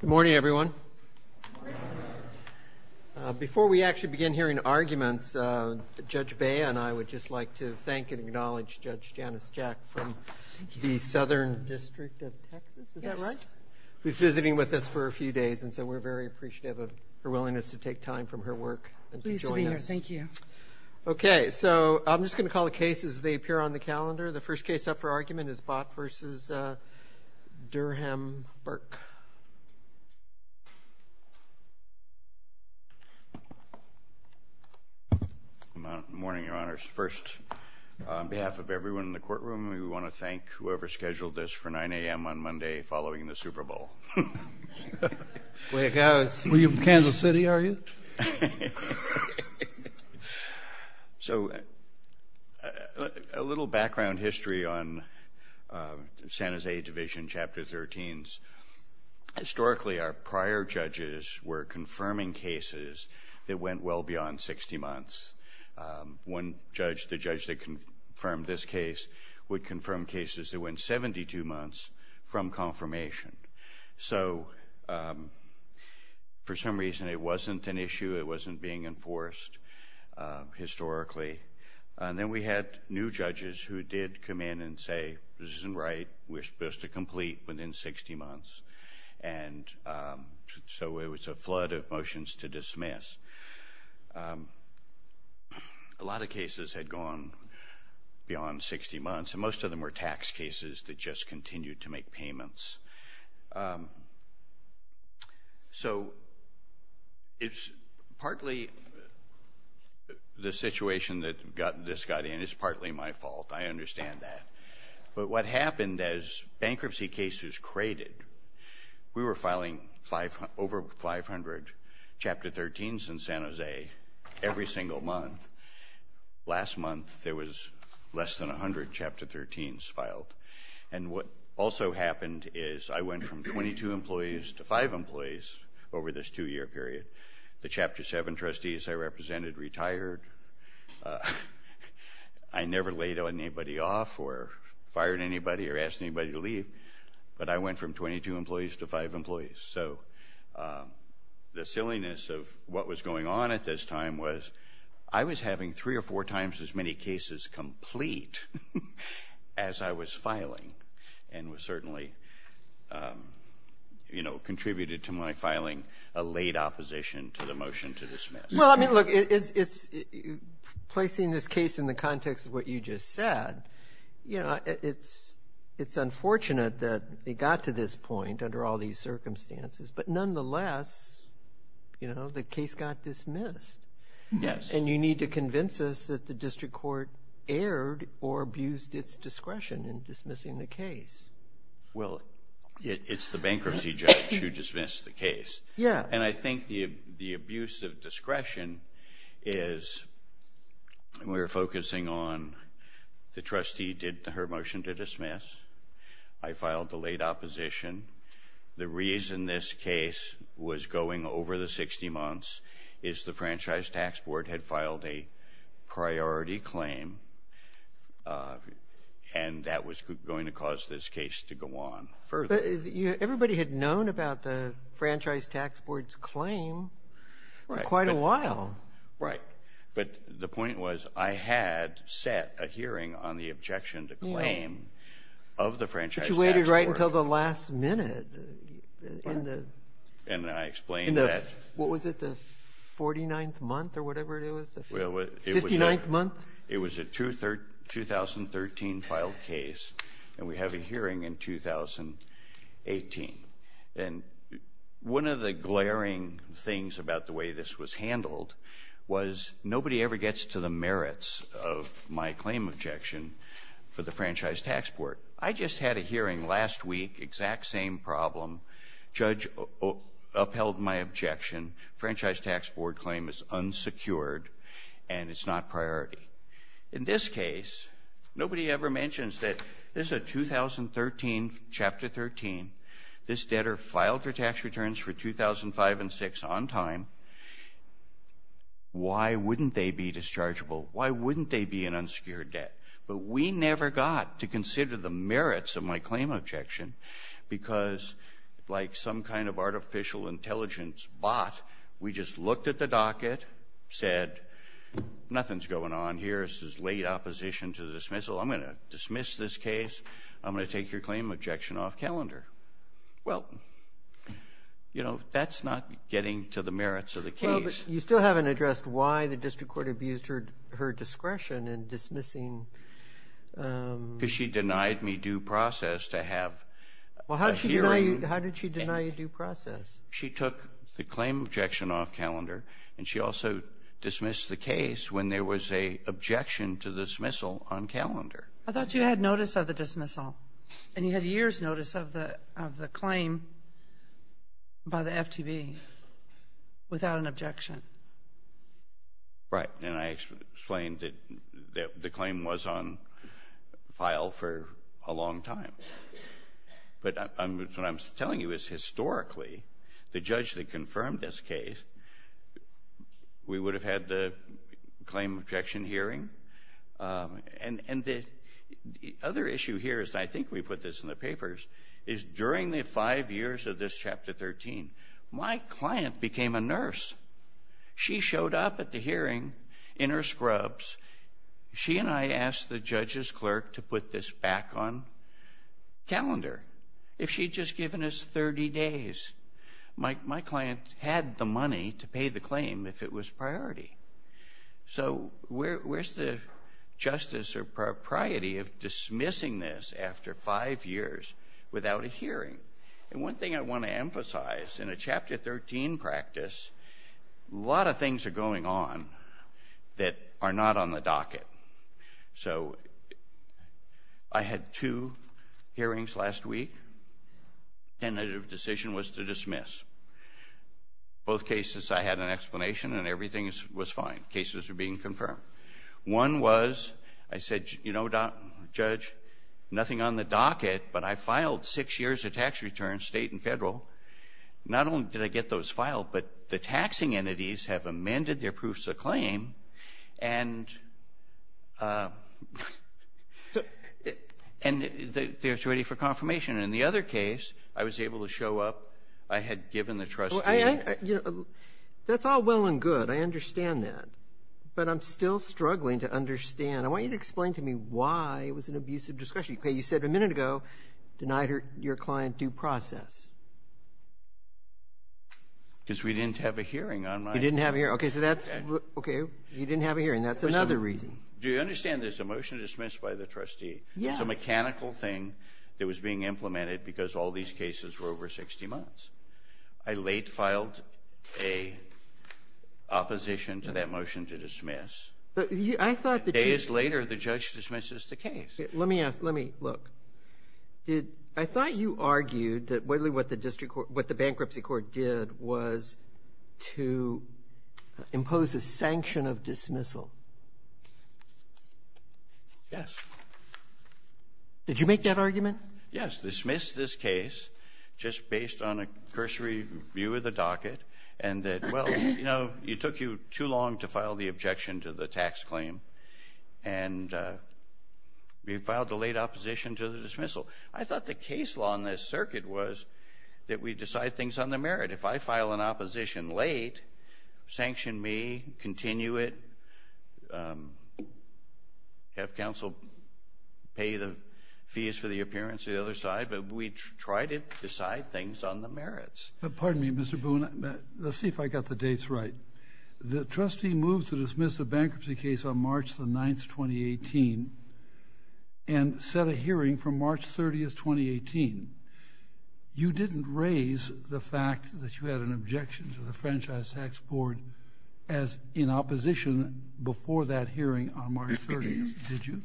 Good morning everyone. Before we actually begin hearing arguments, Judge Bea and I would just like to thank and acknowledge Judge Janice Jack from the Southern District of Texas, is that right? Who's visiting with us for a few days and so we're very appreciative of her willingness to take time from her work and to join us. Pleased to be here, thank you. Okay, so I'm just gonna call the cases as they appear on Judge Burk. Good morning, Your Honors. First, on behalf of everyone in the courtroom, we want to thank whoever scheduled this for 9 a.m. on Monday following the Super Bowl. Where you from? Kansas City, are you? So a little background history on San Jose Division, Chapter 13's. Historically, our prior judges were confirming cases that went well beyond 60 months. One judge, the judge that confirmed this case, would confirm cases that went 72 months from confirmation. So for some reason it wasn't an issue, it wasn't being enforced historically. And then we had new judges who did come in and say, this isn't right, we're supposed to complete within 60 months. And so it was a flood of motions to dismiss. A lot of cases had gone beyond 60 months and most of them were tax cases that just continued to make payments. So it's partly the situation that got this got in, it's partly my fault, I understand that. But what happened as bankruptcy cases created, we were filing over 500 Chapter 13's in San Jose every single month. Last month there was less than a hundred Chapter 13's filed. And what also happened is I went from 22 employees to five employees over this two-year period. The Chapter never laid anybody off or fired anybody or asked anybody to leave, but I went from 22 employees to five employees. So the silliness of what was going on at this time was I was having three or four times as many cases complete as I was filing and was certainly, you know, contributed to my filing a late opposition to the motion to dismiss. Well, I mean, look, it's placing this case in the context of what you just said. You know, it's unfortunate that they got to this point under all these circumstances, but nonetheless, you know, the case got dismissed. Yes. And you need to convince us that the district court erred or abused its discretion in dismissing the case. Well, it's the bankruptcy judge who dismissed the case. Yeah. And I think the abuse of on the trustee did her motion to dismiss. I filed the late opposition. The reason this case was going over the 60 months is the Franchise Tax Board had filed a priority claim and that was going to cause this case to go on further. Everybody had known about the Franchise Tax Board's claim for quite a while. Right. But the point was I had set a hearing on the objection to claim of the Franchise Tax Board. But you waited right until the last minute. And I explained that. What was it? The 49th month or whatever it was? The 59th month? It was a 2013 filed case and we have a hearing in 2018. And one of the glaring things about the way this was handled was nobody ever gets to the merits of my claim objection for the Franchise Tax Board. I just had a hearing last week, exact same problem. Judge upheld my objection. Franchise Tax Board claim is unsecured and it's not priority. In this case, nobody ever mentions that this is a 2013, Chapter 13. This debtor filed her tax returns for 2005 and 2006 on time. Why wouldn't they be dischargeable? Why wouldn't they be an unsecured debt? But we never got to consider the merits of my claim objection because like some kind of artificial intelligence bot, we just looked at the docket, said nothing's going on here. This is late opposition to the dismissal. I'm going to dismiss this You know, that's not getting to the merits of the case. You still haven't addressed why the district court abused her discretion in dismissing? Because she denied me due process to have a hearing. Well, how did she deny you due process? She took the claim objection off calendar and she also dismissed the case when there was a objection to the dismissal on calendar. I thought you had notice of the dismissal and you had years notice of the of the claim by the FTB without an objection. Right, and I explained that the claim was on file for a long time. But what I'm telling you is historically, the judge that confirmed this case, we would have had the claim objection hearing. And the other issue here is, I think we put this in the papers, is during the five years of this Chapter 13, my client became a nurse. She showed up at the hearing in her scrubs. She and I asked the judge's clerk to put this back on calendar. If she'd just given us 30 days. My client had the money to pay the claim if it was priority. So where's the justice or propriety of dismissing this after five years without a hearing? And one thing I want to emphasize, in a Chapter 13 practice, a lot of things are going on that are not on the docket. So I had two hearings last week. Tentative decision was to dismiss. Both cases I had an explanation and everything was fine. Cases are being confirmed. One was, I said, you know, Judge, nothing on the docket, but I filed six years of tax returns, state and federal. Not only did I get those filed, but the taxing entities have amended their proofs of claim, and they're ready for confirmation. In the other case, I was able to show up. I had given the trustee. I, you know, that's all well and good. I understand that. But I'm still struggling to understand. I want you to explain to me why it was an abusive discussion. Okay. You said a minute ago, denied your client due process. Because we didn't have a hearing on my. You didn't have a hearing. Okay, so that's, okay, you didn't have a hearing. That's another reason. Do you understand there's a motion to dismiss by the trustee? Yes. It's a mechanical thing that was being implemented because all these cases were over 60 months. I late filed a opposition to that motion to dismiss. I thought that you. Days later, the judge dismisses the case. Let me ask, let me, look. Did, I thought you argued that what the district court, what the bankruptcy court did was to impose a sanction of dismissal. Yes. Did you make that argument? Yes. Dismissed this case just based on a cursory view of the docket and that, well, you know, it took you too long to file the objection to the tax claim. And we filed a late opposition to the dismissal. I thought the case law in this circuit was that we decide things on the merit. If I file an opposition late, sanction me, continue it, have counsel pay the fees for the appearance of the other side. But we try to decide things on the merits. Pardon me, Mr. Boone. Let's see if I got the dates right. The trustee moves to dismiss a bankruptcy case on March the 9th, 2018, and set a hearing for March 30th, 2018. You didn't raise the fact that you had an objection to the franchise tax board as in opposition before that hearing on March 30th, did you?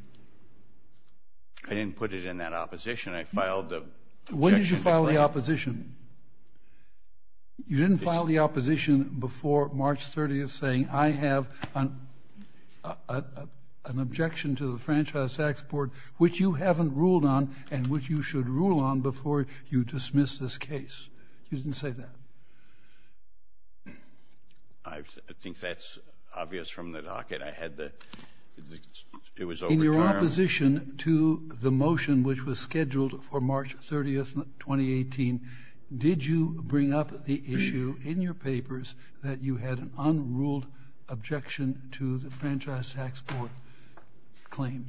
I didn't put it in that opposition. I filed the objection. When did you file the opposition? You didn't file the opposition before March 30th saying I have an objection to the franchise tax board, which you haven't ruled on and which you should rule on before you dismiss this case. You didn't say that. I think that's obvious from the docket. In your opposition to the motion which was scheduled for March 30th, 2018, did you bring up the issue in your papers that you had an unruled objection to the franchise tax board claim?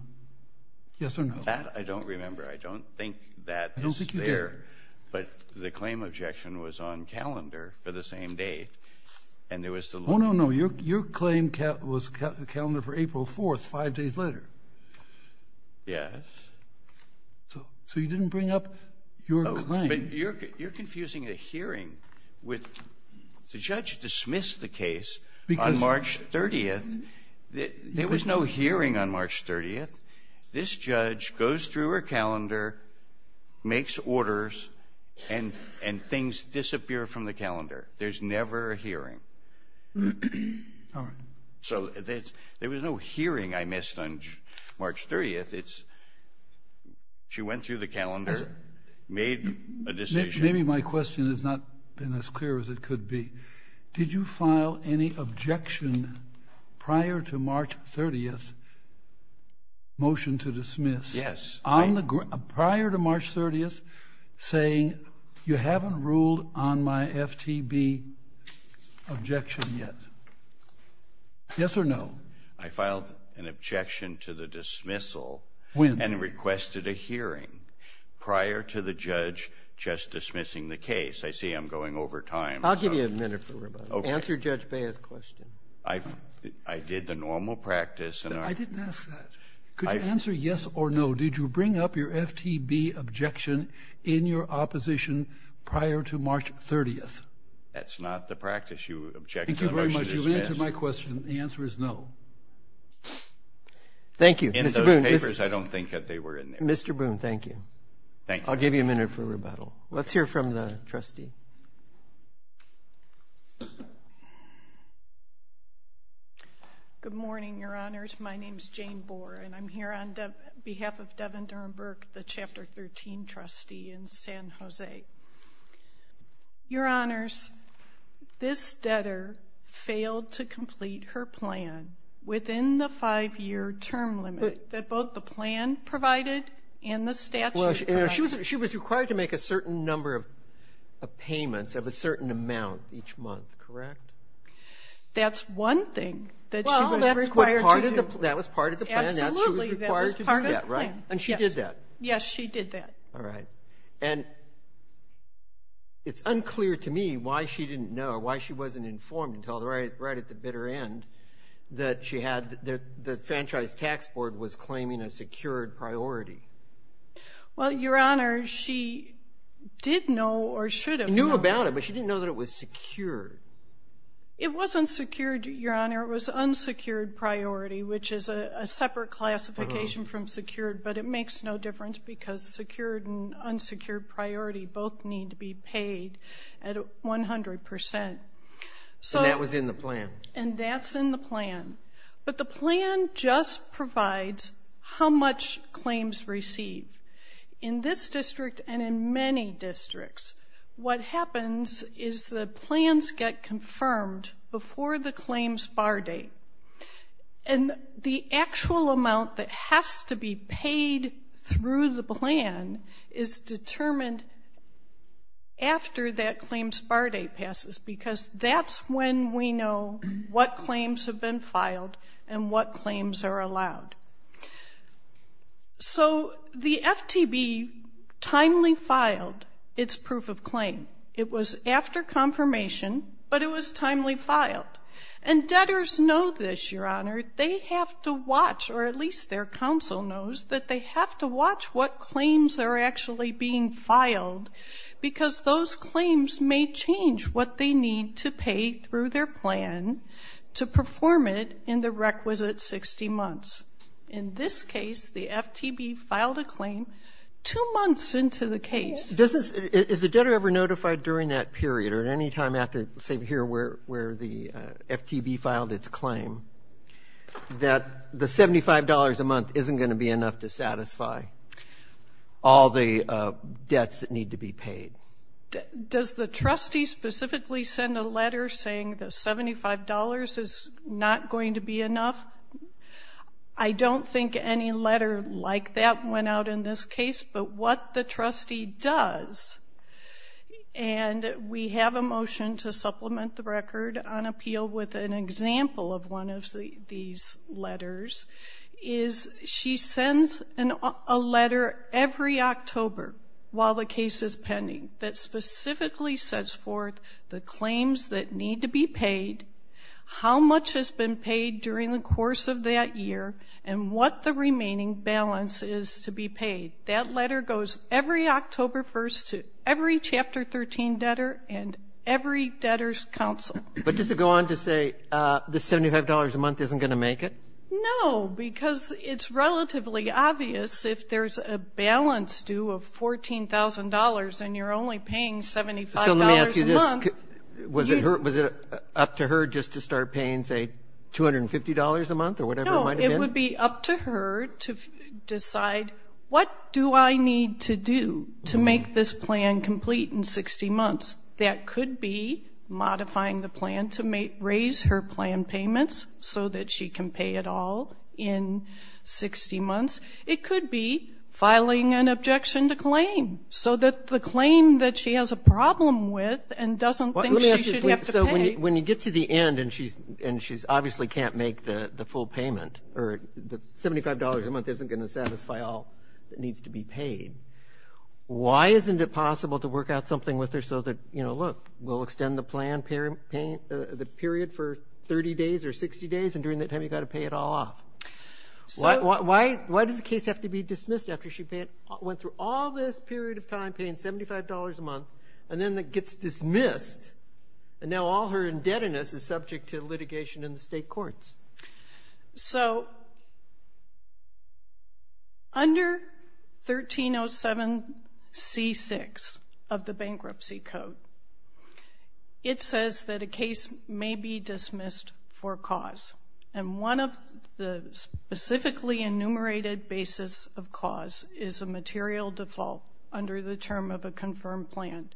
Yes or no? I don't remember. I don't think that is there. But the claim objection was on calendar for the same date. Oh, no, no. Your claim was calendar for April 4th, five days later. Yes. So you didn't bring up your claim. But you're confusing a hearing with the judge dismissed the case on March 30th. There was no hearing on March 30th. This judge goes through her calendar, makes orders, and things disappear from the calendar. There's never a hearing. All right. So there was no hearing I missed on March 30th. She went through the calendar, made a decision. Maybe my question has not been as clear as it could be. Did you file any objection prior to March 30th, motion to dismiss? Yes. Prior to March 30th, saying you haven't ruled on my FTB objection yet. Yes or no? I filed an objection to the dismissal. When? And requested a hearing prior to the judge just dismissing the case. I see I'm going over time. I'll give you a minute for rebuttal. Okay. Answer Judge Bayh's question. I did the normal practice. I didn't ask that. Could you answer yes or no? Did you bring up your FTB objection in your opposition prior to March 30th? That's not the practice. You object to the motion to dismiss. Thank you very much. You've answered my question. The answer is no. Thank you. In those papers, I don't think that they were in there. Mr. Boone, thank you. Thank you. I'll give you a minute for rebuttal. Let's hear from the trustee. Good morning, Your Honors. My name is Jane Bohr, and I'm here on behalf of Devin Durenberg, the Chapter 13 trustee in San Jose. Your Honors, this debtor failed to complete her plan within the five-year term limit that both the plan provided and the statute provided. She was required to make a certain number of payments of a certain amount each month, correct? That's one thing that she was required to do. That was part of the plan. Absolutely. That was part of the plan. And she did that? Yes, she did that. All right. And it's unclear to me why she didn't know, why she wasn't informed until right at the bitter end that the Franchise Tax Board was claiming a secured priority. Well, Your Honors, she did know or should have known. She knew about it, but she didn't know that it was secured. It wasn't secured, Your Honor. It was unsecured priority, which is a separate classification from secured, but it makes no difference because secured and unsecured priority both need to be paid at 100%. And that was in the plan? And that's in the plan. But the plan just provides how much claims receive. In this district and in many districts, what happens is the plans get confirmed before the claims bar date. And the actual amount that has to be paid through the plan is determined after that claims bar date passes because that's when we know what claims have been filed and what claims are allowed. So the FTB timely filed its proof of claim. It was after confirmation, but it was timely filed. And debtors know this, Your Honor. They have to watch, or at least their counsel knows, that they have to watch what claims are actually being filed because those claims may change what they need to pay through their plan to perform it in the requisite 60 months. In this case, the FTB filed a claim two months into the case. Is the debtor ever notified during that period or at any time after, say here where the FTB filed its claim, that the $75 a month isn't going to be enough to satisfy all the debts that need to be paid? Does the trustee specifically send a letter saying the $75 is not going to be enough? I don't think any letter like that went out in this case, but what the trustee does, and we have a motion to supplement the record on appeal with an example of one of these letters, is she sends a letter every October while the case is pending that specifically sets forth the claims that need to be paid, how much has been paid during the course of that year, and what the remaining balance is to be paid. That letter goes every October 1st to every Chapter 13 debtor and every debtor's counsel. But does it go on to say the $75 a month isn't going to make it? No, because it's relatively obvious if there's a balance due of $14,000 and you're only paying $75 a month. Was it up to her just to start paying, say, $250 a month or whatever it might have been? No, it would be up to her to decide what do I need to do to make this plan complete in 60 months. That could be modifying the plan to raise her plan payments so that she can pay it all in 60 months. It could be filing an objection to claim so that the claim that she has a problem with and doesn't think she should have to pay. So when you get to the end and she obviously can't make the full payment, or the $75 a month isn't going to satisfy all that needs to be paid, why isn't it possible to work out something with her so that, you know, look, we'll extend the plan, the period for 30 days or 60 days, and during that time you've got to pay it all off? Why does the case have to be dismissed after she went through all this period of time paying $75 a month, and then it gets dismissed, and now all her indebtedness is subject to litigation in the state courts? So under 1307C6 of the Bankruptcy Code, it says that a case may be dismissed for cause, and one of the specifically enumerated basis of cause is a material default under the term of a confirmed plan.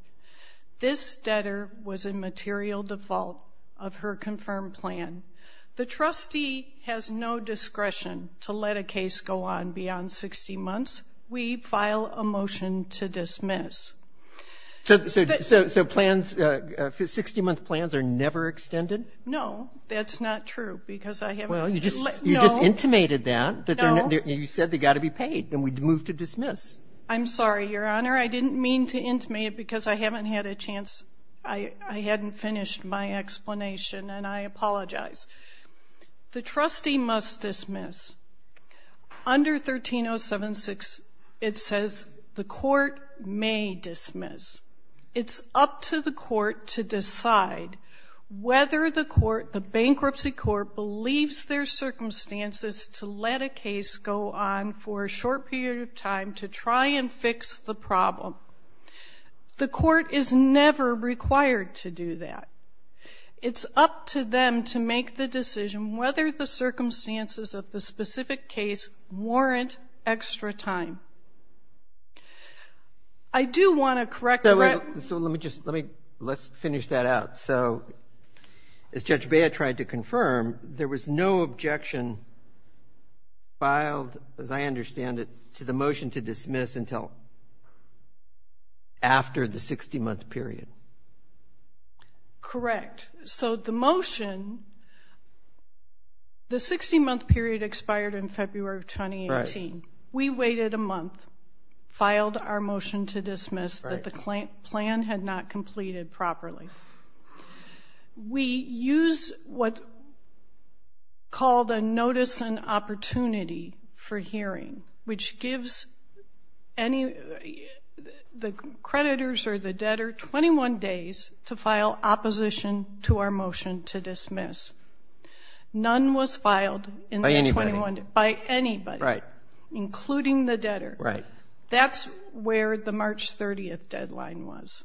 This debtor was a material default of her confirmed plan. The trustee has no discretion to let a case go on beyond 60 months. We file a motion to dismiss. So plans, 60-month plans are never extended? No, that's not true, because I haven't let go. Well, you just intimated that. No. You said they've got to be paid, and we moved to dismiss. I'm sorry, Your Honor. I didn't mean to intimate it because I haven't had a chance. I hadn't finished my explanation, and I apologize. The trustee must dismiss. Under 1307C6, it says the court may dismiss. It's up to the court to decide whether the court, the bankruptcy court, believes their circumstances to let a case go on for a short period of time to try and fix the problem. The court is never required to do that. It's up to them to make the decision whether the circumstances of the specific case warrant extra time. I do want to correct the record. So let me just let me let's finish that out. So as Judge Bea tried to confirm, there was no objection filed, as I understand it, to the motion to dismiss until after the 60-month period. Correct. So the motion, the 60-month period expired in February of 2018. Right. We waited a month, filed our motion to dismiss that the plan had not completed properly. We used what's called a notice and opportunity for hearing, which gives the creditors or the debtor 21 days to file opposition to our motion to dismiss. None was filed in that 21 days. By anybody. By anybody. Right. Including the debtor. Right. That's where the March 30th deadline was.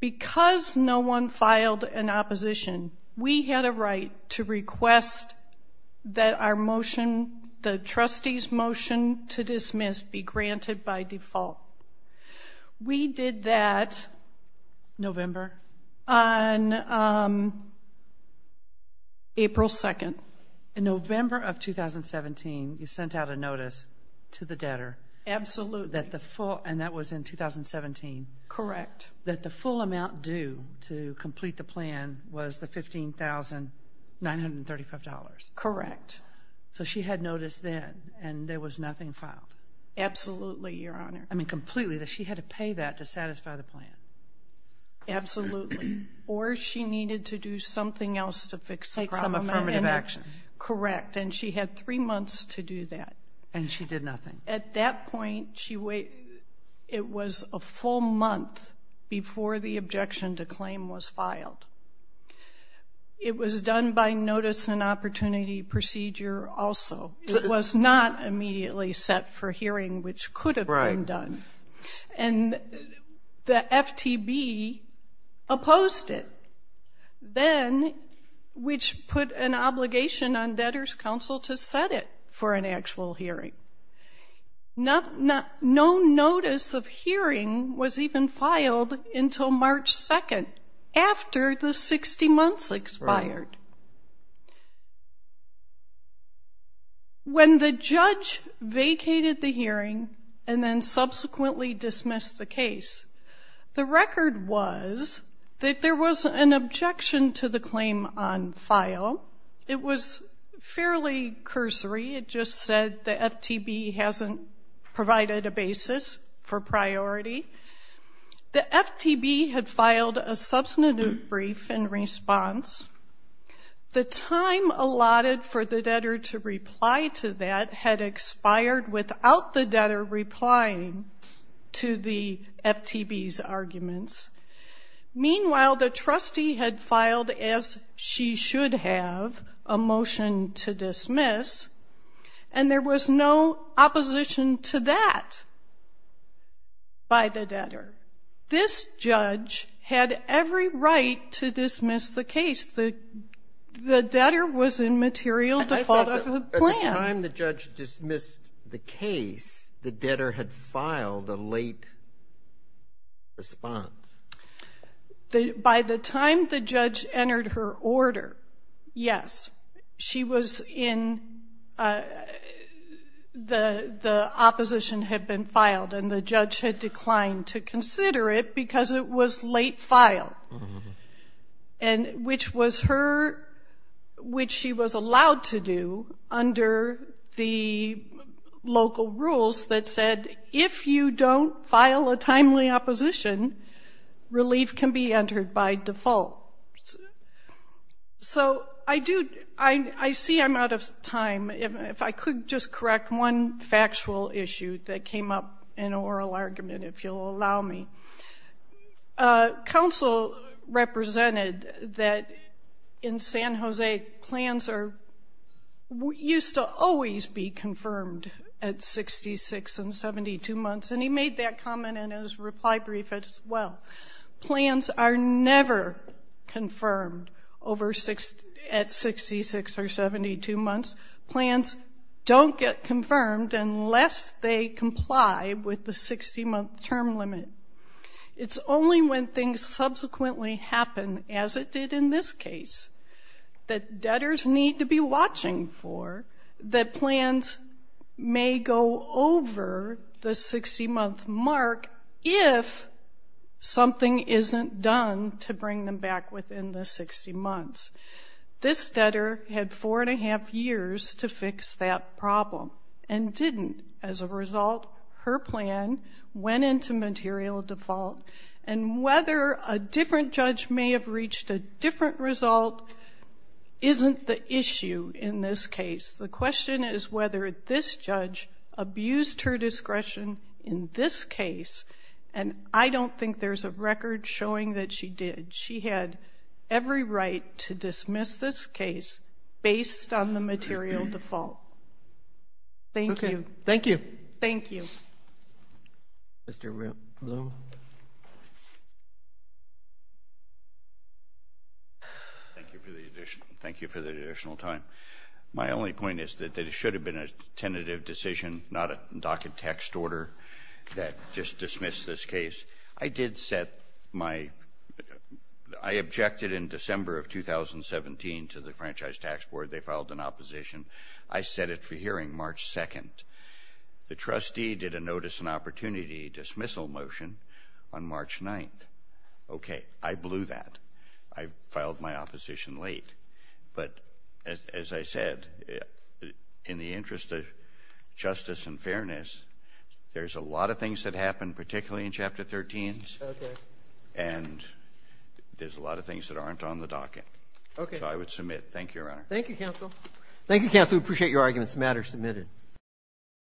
Because no one filed an opposition, we had a right to request that our motion, the trustee's motion to dismiss be granted by default. We did that. November? On April 2nd. In November of 2017, you sent out a notice to the debtor. Absolutely. And that was in 2017. Correct. That the full amount due to complete the plan was the $15,935. Correct. So she had notice then, and there was nothing filed. Absolutely, Your Honor. I mean, completely. She had to pay that to satisfy the plan. Absolutely. Or she needed to do something else to fix the problem. Take some affirmative action. Correct. And she had three months to do that. And she did nothing. At that point, it was a full month before the objection to claim was filed. It was done by notice and opportunity procedure also. It was not immediately set for hearing, which could have been done. Right. And the FTB opposed it. Then, which put an obligation on debtor's counsel to set it for an actual hearing. No notice of hearing was even filed until March 2nd, after the 60 months expired. Right. When the judge vacated the hearing and then subsequently dismissed the case, the record was that there was an objection to the claim on file. It was fairly cursory. It just said the FTB hasn't provided a basis for priority. The FTB had filed a substantive brief in response. The time allotted for the debtor to reply to that had expired without the debtor replying to the FTB's arguments. Meanwhile, the trustee had filed, as she should have, a motion to dismiss. And there was no opposition to that by the debtor. This judge had every right to dismiss the case. The debtor was in material default of the plan. By the time the judge dismissed the case, the debtor had filed a late response. By the time the judge entered her order, yes, she was in the opposition had been filed, and the judge had declined to consider it because it was late filed, which she was allowed to do under the local rules that said, if you don't file a timely opposition, relief can be entered by default. So I see I'm out of time. If I could just correct one factual issue that came up in an oral argument, if you'll allow me. Counsel represented that in San Jose, plans used to always be confirmed at 66 and 72 months, and he made that comment in his reply brief as well. Plans are never confirmed at 66 or 72 months. Plans don't get confirmed unless they comply with the 60-month term limit. It's only when things subsequently happen, as it did in this case, that debtors need to be watching for that plans may go over the 60-month mark if something isn't done to bring them back within the 60 months. This debtor had four and a half years to fix that problem and didn't. As a result, her plan went into material default, and whether a different judge may have reached a different result isn't the issue in this case. The question is whether this judge abused her discretion in this case, and I don't think there's a record showing that she did. She had every right to dismiss this case based on the material default. Thank you. Thank you. Thank you. Mr. Bloom. Thank you for the additional time. My only point is that it should have been a tentative decision, not a docket text order that just dismissed this case. I did set my – I objected in December of 2017 to the Franchise Tax Board. They filed an opposition. I set it for hearing March 2nd. The trustee did a notice and opportunity dismissal motion on March 9th. Okay, I blew that. I filed my opposition late. But as I said, in the interest of justice and fairness, there's a lot of things that happen, particularly in Chapter 13. Okay. And there's a lot of things that aren't on the docket. Okay. So I would submit. Thank you, Your Honor. Thank you, counsel. Thank you, counsel. We appreciate your arguments.